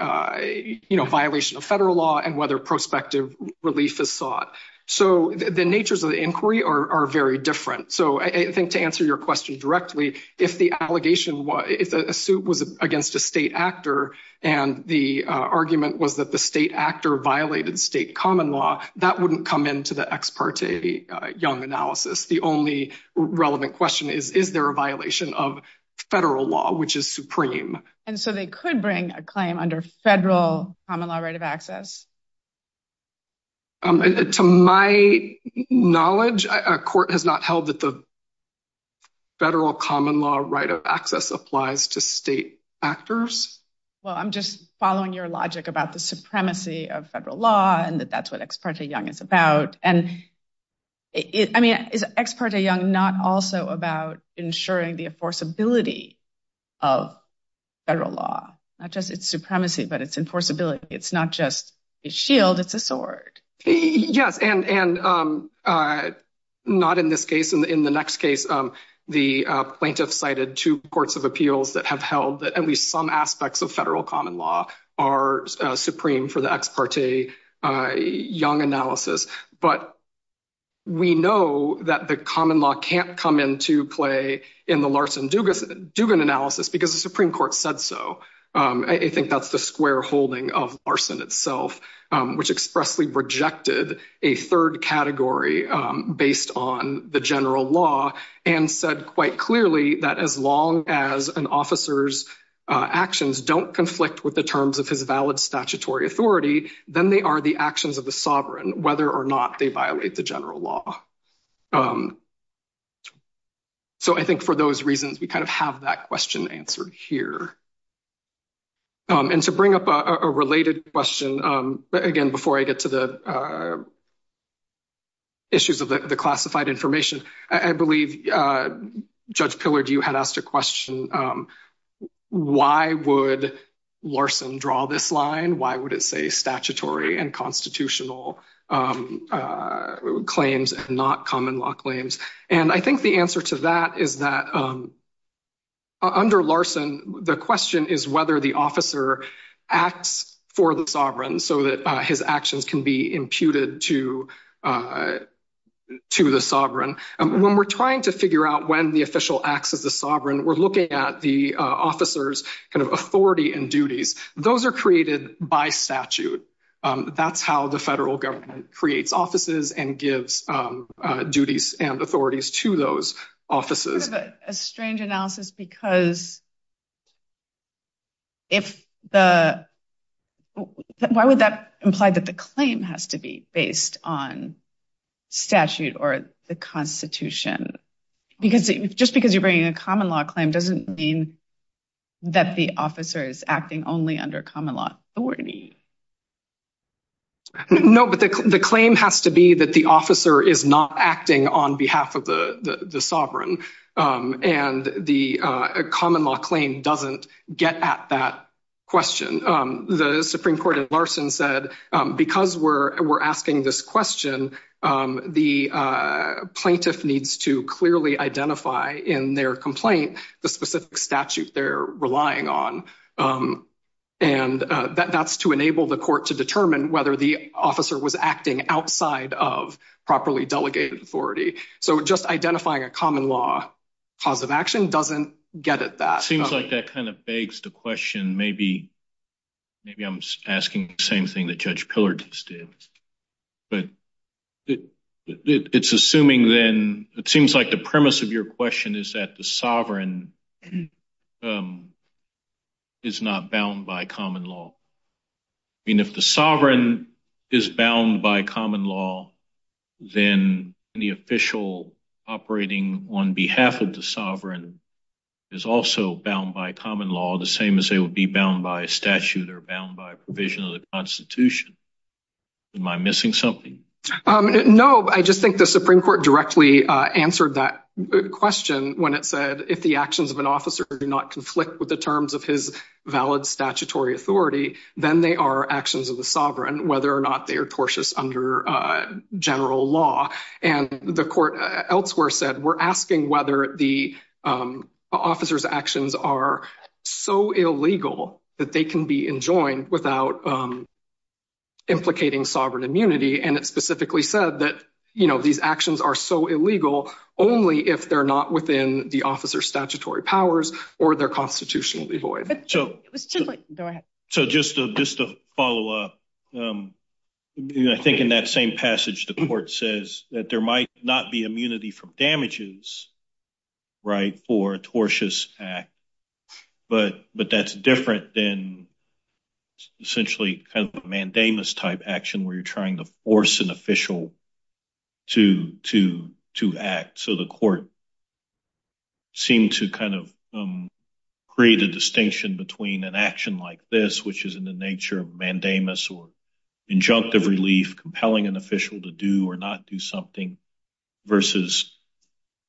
violation of federal law and whether prospective relief is sought. So the natures of the inquiry are very different. So I think to answer your question directly, if a suit was against a state actor and the argument was that the state actor violated state common law, that wouldn't come into the Ex parte Young analysis. The only relevant question is, is there a violation of federal law, which is supreme? And so they could bring a claim under federal common law right of access? To my knowledge, a court has not held that the federal common law right of access applies to state actors. Well, I'm just following your logic about the supremacy of federal law and that that's Ex parte Young is about. And I mean, is Ex parte Young not also about ensuring the enforceability of federal law? Not just its supremacy, but its enforceability. It's not just a shield, it's a sword. Yes. And not in this case. In the next case, the plaintiff cited two courts of appeals that have held that at least some aspects of federal common law are supreme for the Ex parte Young analysis. But we know that the common law can't come into play in the Larson-Dugan analysis because the Supreme Court said so. I think that's the square holding of Larson itself, which expressly rejected a third category based on the general law and said quite clearly that as as an officer's actions don't conflict with the terms of his valid statutory authority, then they are the actions of the sovereign, whether or not they violate the general law. So I think for those reasons, we kind of have that question answered here. And to bring up a related question, again, before I get to the classified information, I believe Judge Pillard, you had asked a question. Why would Larson draw this line? Why would it say statutory and constitutional claims and not common law claims? And I think the answer to that is that under Larson, the question is whether the officer acts for the sovereign so that his actions can be to the sovereign. When we're trying to figure out when the official acts as the sovereign, we're looking at the officer's kind of authority and duties. Those are created by statute. That's how the federal government creates offices and gives duties and authorities to those offices. It's sort of a strange analysis because if the why would that imply that the claim has to be based on statute or the Constitution? Just because you're bringing a common law claim doesn't mean that the officer is acting only under common law authority. No, but the claim has to be that the officer is not acting on behalf of the sovereign. And the common law claim doesn't get at that question. The Supreme Court of Larson said, because we're asking this question, the plaintiff needs to clearly identify in their complaint the specific statute they're relying on. And that's to enable the court to determine whether the officer was acting outside of properly delegated authority. So just identifying a common law cause of action doesn't get at that. Seems like that kind of begs the question, maybe I'm asking the same thing that Judge Pillard just did, but it seems like the premise of your question is that the sovereign is not bound by common law. I mean, if the sovereign is bound by common law, then the official operating on behalf of the sovereign is also bound by common law, the same as they would be bound by a statute or bound by provision of the Constitution. Am I missing something? No, I just think the Supreme Court directly answered that question when it said, if the actions of an officer do not conflict with the terms of his valid statutory authority, then they are actions of the sovereign, whether or not they are tortious under general law. And the court elsewhere said, we're asking whether the officer's illegal that they can be enjoined without implicating sovereign immunity. And it specifically said that these actions are so illegal only if they're not within the officer's statutory powers or they're constitutionally void. So just to follow up, I think in that same passage, the court says that there might not be immunity from damages for a tortious act, but that's different than essentially a mandamus-type action where you're trying to force an official to act. So the court seemed to create a distinction between an action like this, which is in the nature of mandamus or injunctive relief, compelling an official to do or not do versus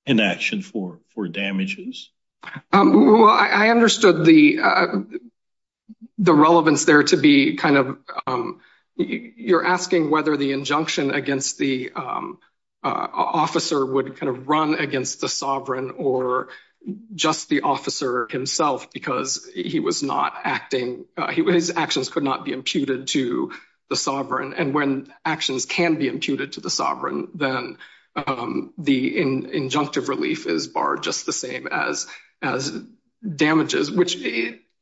an action for damages. Well, I understood the relevance there to be kind of, you're asking whether the injunction against the officer would kind of run against the sovereign or just the officer himself because he was not acting, his actions could not be imputed to the sovereign. And when actions can be imputed to the sovereign, then the injunctive relief is barred just the same as damages, which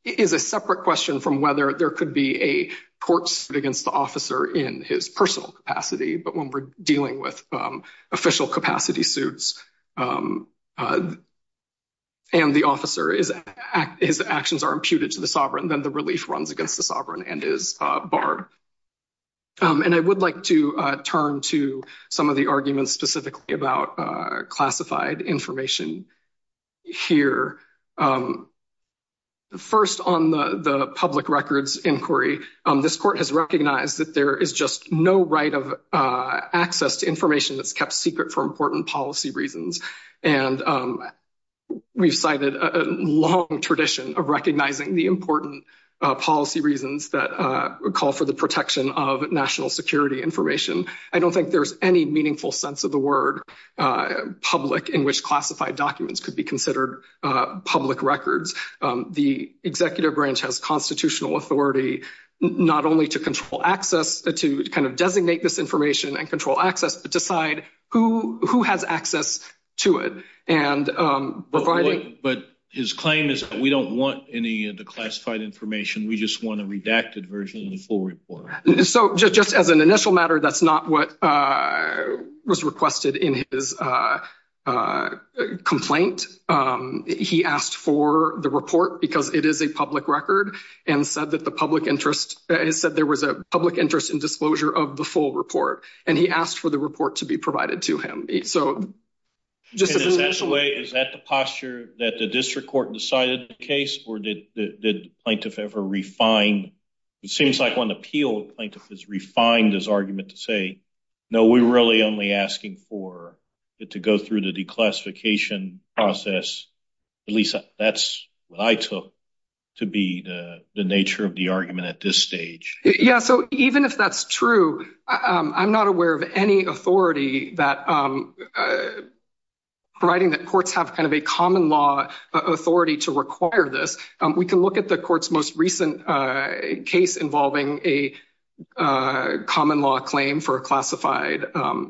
is a separate question from whether there could be a court suit against the officer in his personal capacity. But when we're dealing with official capacity suits and the officer, his actions are imputed to the sovereign, then the relief runs against the sovereign and is barred. And I would like to turn to some of the arguments specifically about classified information here. First, on the public records inquiry, this court has recognized that there is just no right of access to information that's kept secret for important policy reasons. And we've cited a long tradition of recognizing the important policy reasons that call for the protection of national security information. I don't think there's any meaningful sense of the word public in which classified documents could be considered public records. The executive branch has constitutional authority not only to control access, to kind of designate this information and control access, but decide who has access to it. But his claim is we don't want any of the classified information. We just want a redacted version of the full report. So just as an initial matter, that's not what was requested in his complaint. He asked for the report because it is a public record and said that there was a public interest in disclosure of the full report. And he asked for the report to be provided to him. Is that the posture that the district court decided the case or did the plaintiff ever refine? It seems like when the appeal plaintiff has refined this argument to say, no, we're really only asking for it to go through the declassification process. At least that's what I took to be the nature of the argument at this stage. Yeah. So even if that's true, I'm not aware of any authority that writing that courts have kind of a common law authority to require this. We can look at the court's most recent case involving a common law claim for a classified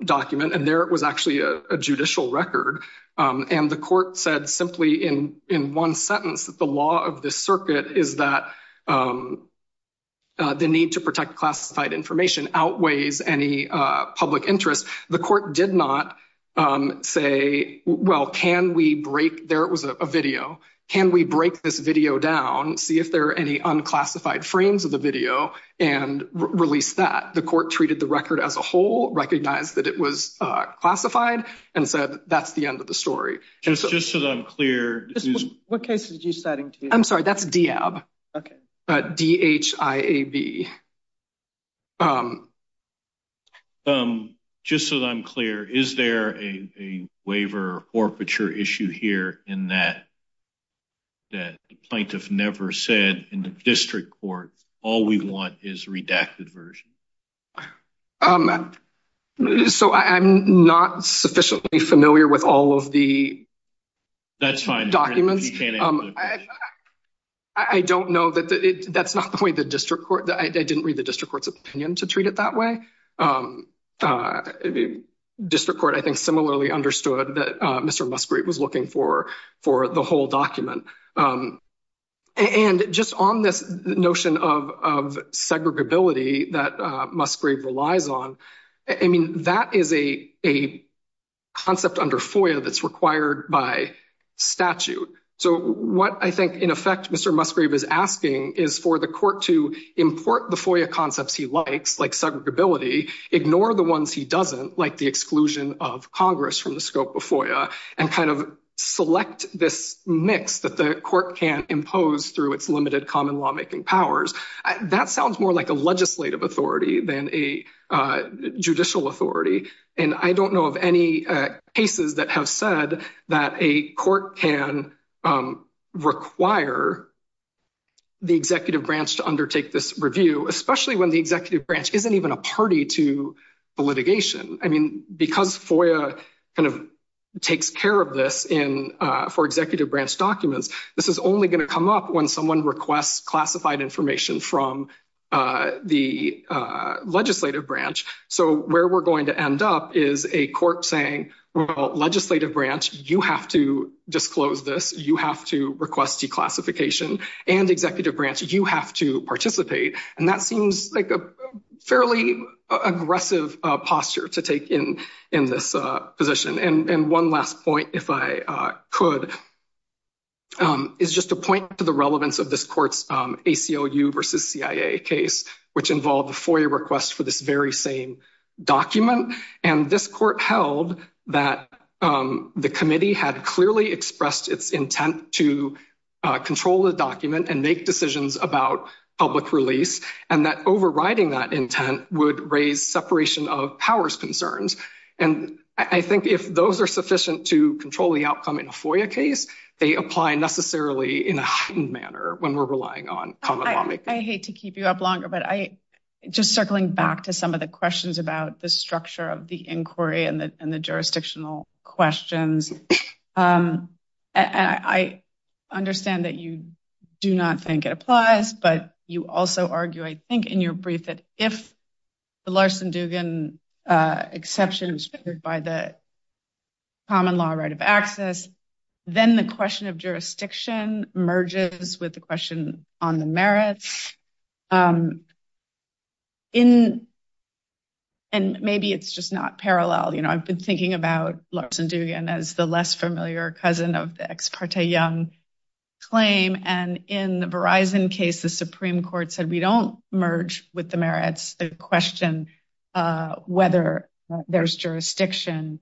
document. And there it was actually a judicial record. And the court said simply in one sentence that the law of the circuit is that the need to protect classified information outweighs any public interest. The court did not say, well, can we break there? It was a video. Can we break this video down, see if there are any unclassified frames of the video and release that? The court treated the record as a whole, recognized that it was classified and said that's the end of the story. Just so that I'm clear. What case did you study? I'm sorry, that's DIAB. Okay. But D-H-I-A-B. Just so that I'm clear, is there a waiver or picture issue here in that that the plaintiff never said in the district court, all we want is redacted version. So I'm not sufficiently familiar with all of the documents. That's fine. I don't know that that's not the way the district court, I didn't read the district court's opinion to treat it that way. District court I think similarly understood that Mr. Musgrave was looking for the whole document. And just on this notion of segregability, that Musgrave relies on, I mean, that is a concept under FOIA that's required by statute. So what I think in effect, Mr. Musgrave is asking is for the court to import the FOIA concepts he likes like segregability, ignore the ones he doesn't like the exclusion of Congress from the scope of FOIA and kind of select this mix that the court can impose through its limited common lawmaking powers. That sounds more like a legislative authority than a judicial authority. And I don't know of any cases that have said that a court can require the executive branch to undertake this review, especially when the executive branch isn't even a party to the litigation. I mean, because FOIA kind of takes care of this for executive branch documents, this is only going to come up when someone requests classified information from the legislative branch. So where we're going to end up is a court saying, well, legislative branch, you have to disclose this. You have to request declassification. And executive branch, you have to participate. And that seems like a fairly aggressive posture to take in this position. And one last point, if I could, is just a point to the relevance of this court's ACLU versus CIA case, which involved the FOIA request for this very same document. And this court held that the committee had clearly expressed its intent to control the document and make decisions about public release, and that overriding that intent would raise separation of powers concerns. And I think if those are sufficient to control the outcome in a FOIA case, they apply necessarily in a heightened manner when we're relying on common law. I hate to keep you up longer, but just circling back to some of the questions about the structure of the inquiry and the jurisdictional questions, I understand that you do not think it applies, but you also argue, I think, in your brief that if the Larson-Dugan exception was triggered by the common law right of access, then the question of jurisdiction merges with the question on the merits. And maybe it's just not parallel. I've been thinking about Larson-Dugan as the less case the Supreme Court said, we don't merge with the merits, the question whether there's jurisdiction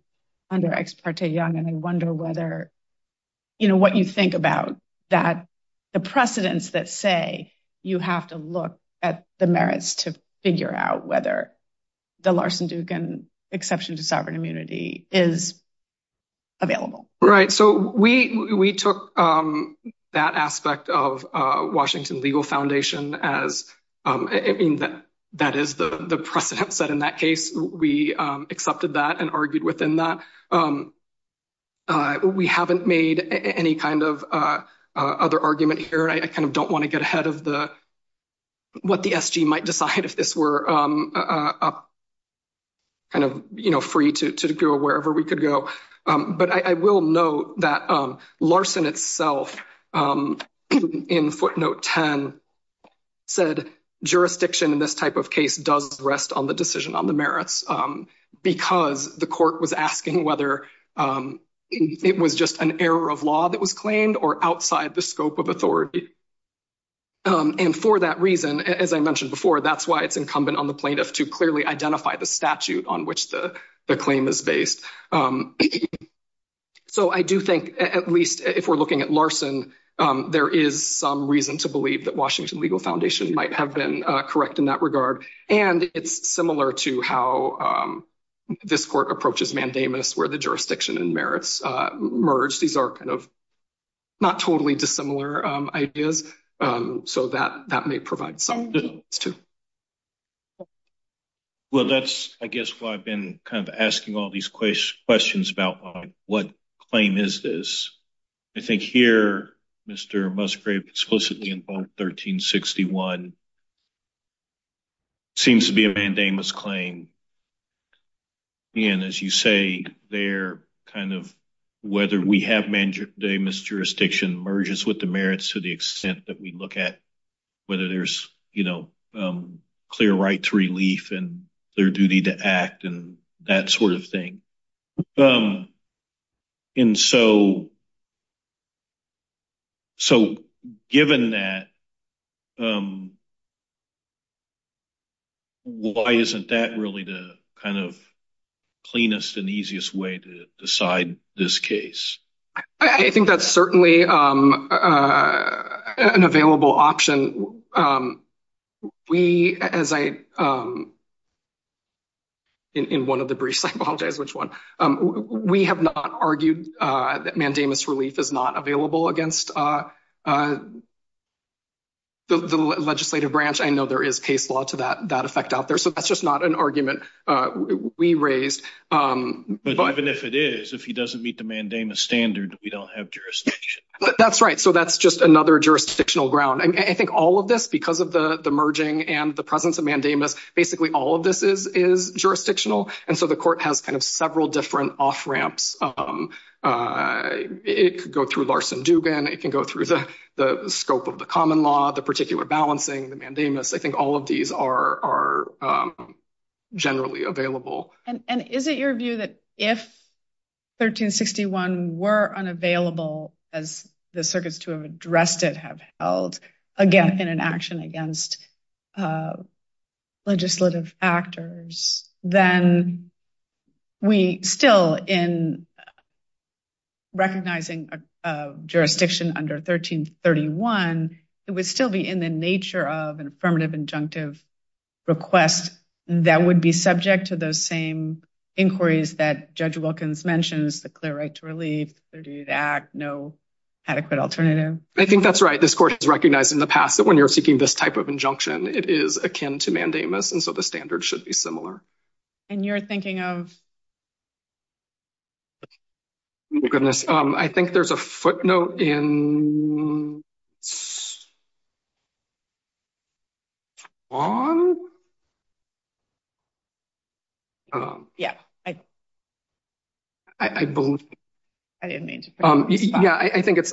under Ex parte Young. And I wonder what you think about that, the precedents that say you have to look at the merits to figure out whether the Larson-Dugan exception to sovereign legal foundation, that is the precedent set in that case. We accepted that and argued within that. We haven't made any kind of other argument here. I kind of don't want to get ahead of what the SG might decide if this were kind of free to go wherever we could go. But I will note that Larson itself in footnote 10 said jurisdiction in this type of case does rest on the decision on the merits because the court was asking whether it was just an error of law that was claimed or outside the scope of authority. And for that reason, as I mentioned before, that's why it's incumbent on the plaintiff to So I do think at least if we're looking at Larson, there is some reason to believe that Washington Legal Foundation might have been correct in that regard. And it's similar to how this court approaches mandamus where the jurisdiction and merits merge. These are kind of not totally dissimilar ideas. So that that may provide some. It's true. Well, that's, I guess, why I've been kind of asking all these questions about what claim is this? I think here, Mr. Musgrave explicitly in 1361 seems to be a mandamus claim. And as you say, they're kind of whether we have mandamus jurisdiction merges with the merits to the extent that we look at whether there's clear right to relief and their duty to act and that sort of thing. And so. So given that. Why isn't that really the kind of cleanest and easiest way to decide this case? I think that's certainly an available option. We, as I. In one of the briefs, I apologize, which one we have not argued that mandamus relief is not available against the legislative branch. I know there is case law to that that effect out there. So that's just not an argument we raised. But even if it is, if he doesn't meet the standard, we don't have jurisdiction. That's right. So that's just another jurisdictional ground. I think all of this, because of the merging and the presence of mandamus, basically all of this is jurisdictional. And so the court has kind of several different off ramps. It could go through Larson Dugan. It can go through the scope of the common law, the particular balancing the mandamus. I think all of these are generally available. And is it your view that if 1361 were unavailable, as the circuits to have addressed it, have held again in an action against legislative actors, then we still in recognizing jurisdiction under 1331, it would still be in the nature of an affirmative injunctive request that would be subject to those same inquiries that Judge Wilkins mentions, the clear right to relief, the clear duty to act, no adequate alternative. I think that's right. This court has recognized in the past that when you're seeking this type of injunction, it is akin to mandamus. And so the standard should be similar. And you're thinking of? Oh, goodness. I think there's a footnote in on. Yeah, I believe. I didn't mean to. Yeah, I think it's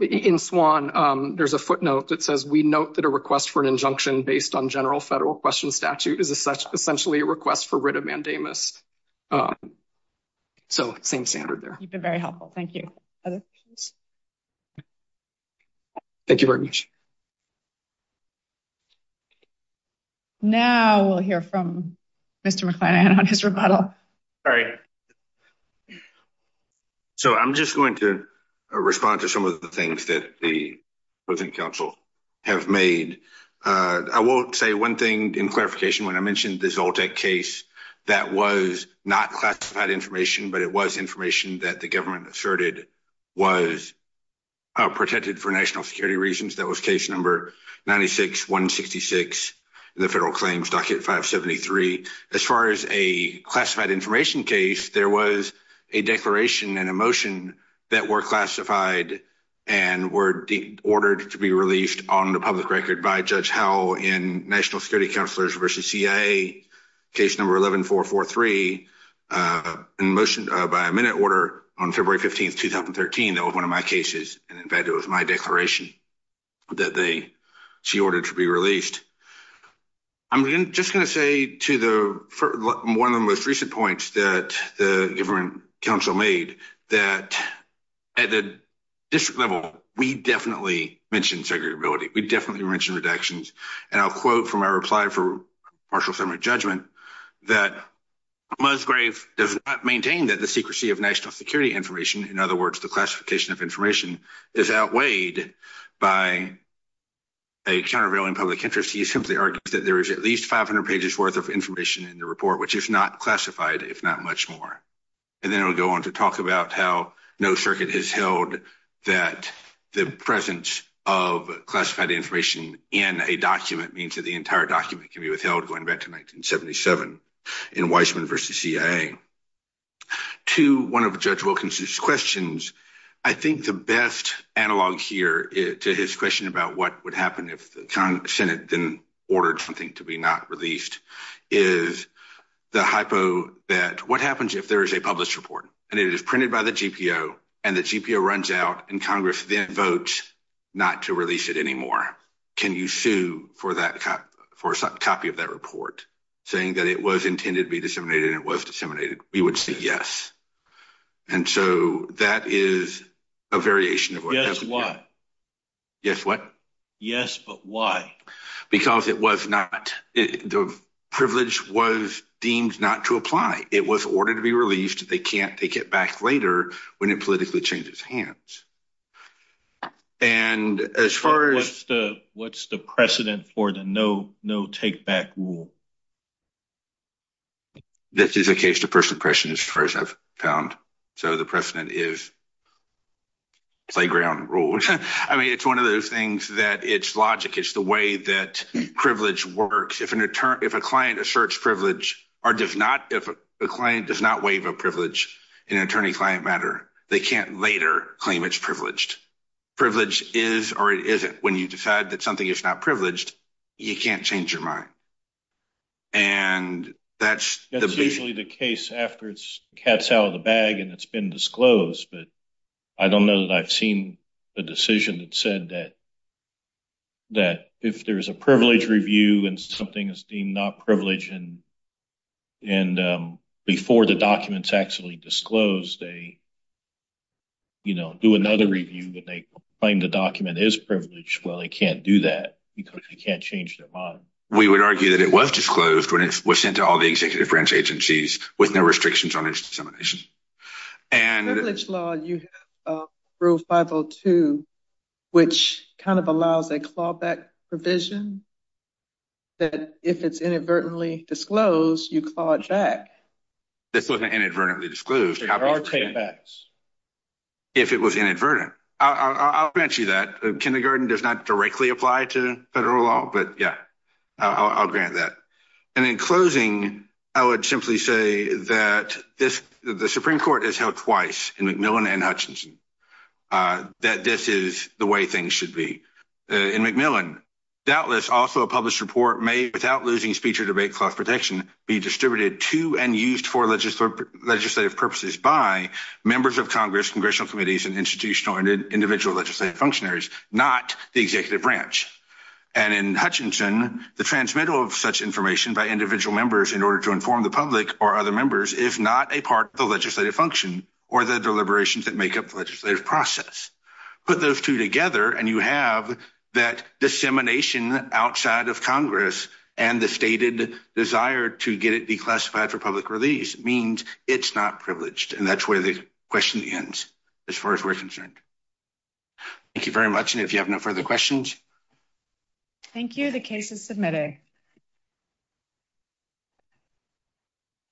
in Swan. There's a footnote that says, we note that a request for an injunction based on general federal question statute is essentially a request for writ of mandamus. So same standard there. You've been very helpful. Thank you. Thank you very much. Now we'll hear from Mr. McFadden on his rebuttal. So I'm just going to respond to some of the things that the was not classified information, but it was information that the government asserted was protected for national security reasons. That was case number 96166 in the federal claims, docket 573. As far as a classified information case, there was a declaration and a motion that were classified and were ordered to be released on the public record by Judge Howell in national security counselors versus CIA case number 11443 in motion by a minute order on February 15th, 2013. That was one of my cases. And in fact, it was my declaration that they she ordered to be released. I'm just going to say to the 1 of the most recent points that the government council made that at the district level, we definitely mentioned segregability. We definitely mentioned redactions. And I'll quote from our reply for partial settlement judgment that Musgrave does not maintain that the secrecy of national security information. In other words, the classification of information is outweighed by a countervailing public interest. He simply argues that there is at least 500 pages worth of information in the report, which is not classified, if not much more. And then we'll go on to talk about how no circuit has held that the presence of classified information in a document means that the entire document can be withheld going back to 1977 in Weisman versus CIA. To one of Judge Wilkinson's questions, I think the best analog here to his question about what would happen if the Senate then ordered something to be not released is the hypo that what happens if there is a published report and it is printed by the GPO and the GPO runs out and Congress then votes not to release it anymore. Can you sue for that for a copy of that report saying that it was intended to be disseminated and it was disseminated? We would say yes. And so that is a variation of why. Yes, but why? Because it was not the privilege was deemed not to apply. It was ordered to be released. They can't take it back later when it politically changes hands. And as far as... What's the precedent for the no take back rule? This is a case to person question as far as I've found. So the precedent is playground rules. I mean, it's one of those things that it's logic. It's the way that a search privilege or does not, if a client does not waive a privilege in an attorney-client matter, they can't later claim it's privileged. Privilege is or it isn't. When you decide that something is not privileged, you can't change your mind. And that's... That's usually the case after it's cats out of the bag and it's been disclosed. But I don't know that I've seen a decision that said that if there's a privilege review and something is deemed not privileged and before the document's actually disclosed, they do another review and they claim the document is privileged. Well, they can't do that because they can't change their mind. We would argue that it was disclosed when it was sent to all the executive branch agencies with no restrictions on kind of allows a clawback provision that if it's inadvertently disclosed, you claw it back. This wasn't inadvertently disclosed. There are takebacks. If it was inadvertent. I'll grant you that. Kindergarten does not directly apply to federal law, but yeah, I'll grant that. And in closing, I would simply say that the Supreme Court has twice in McMillan and Hutchinson that this is the way things should be. In McMillan, doubtless also a published report may, without losing speech or debate, clause protection be distributed to and used for legislative purposes by members of Congress, congressional committees, and institutional and individual legislative functionaries, not the executive branch. And in Hutchinson, the transmittal of such information by individual members in order to inform the public or other members, if not a part of the legislative function or the deliberations that make up the legislative process, put those two together. And you have that dissemination outside of Congress and the stated desire to get it declassified for public release means it's not privileged. And that's where the question ends as far as we're concerned. Thank you very much. And if you have no further questions. Thank you. The case is submitted.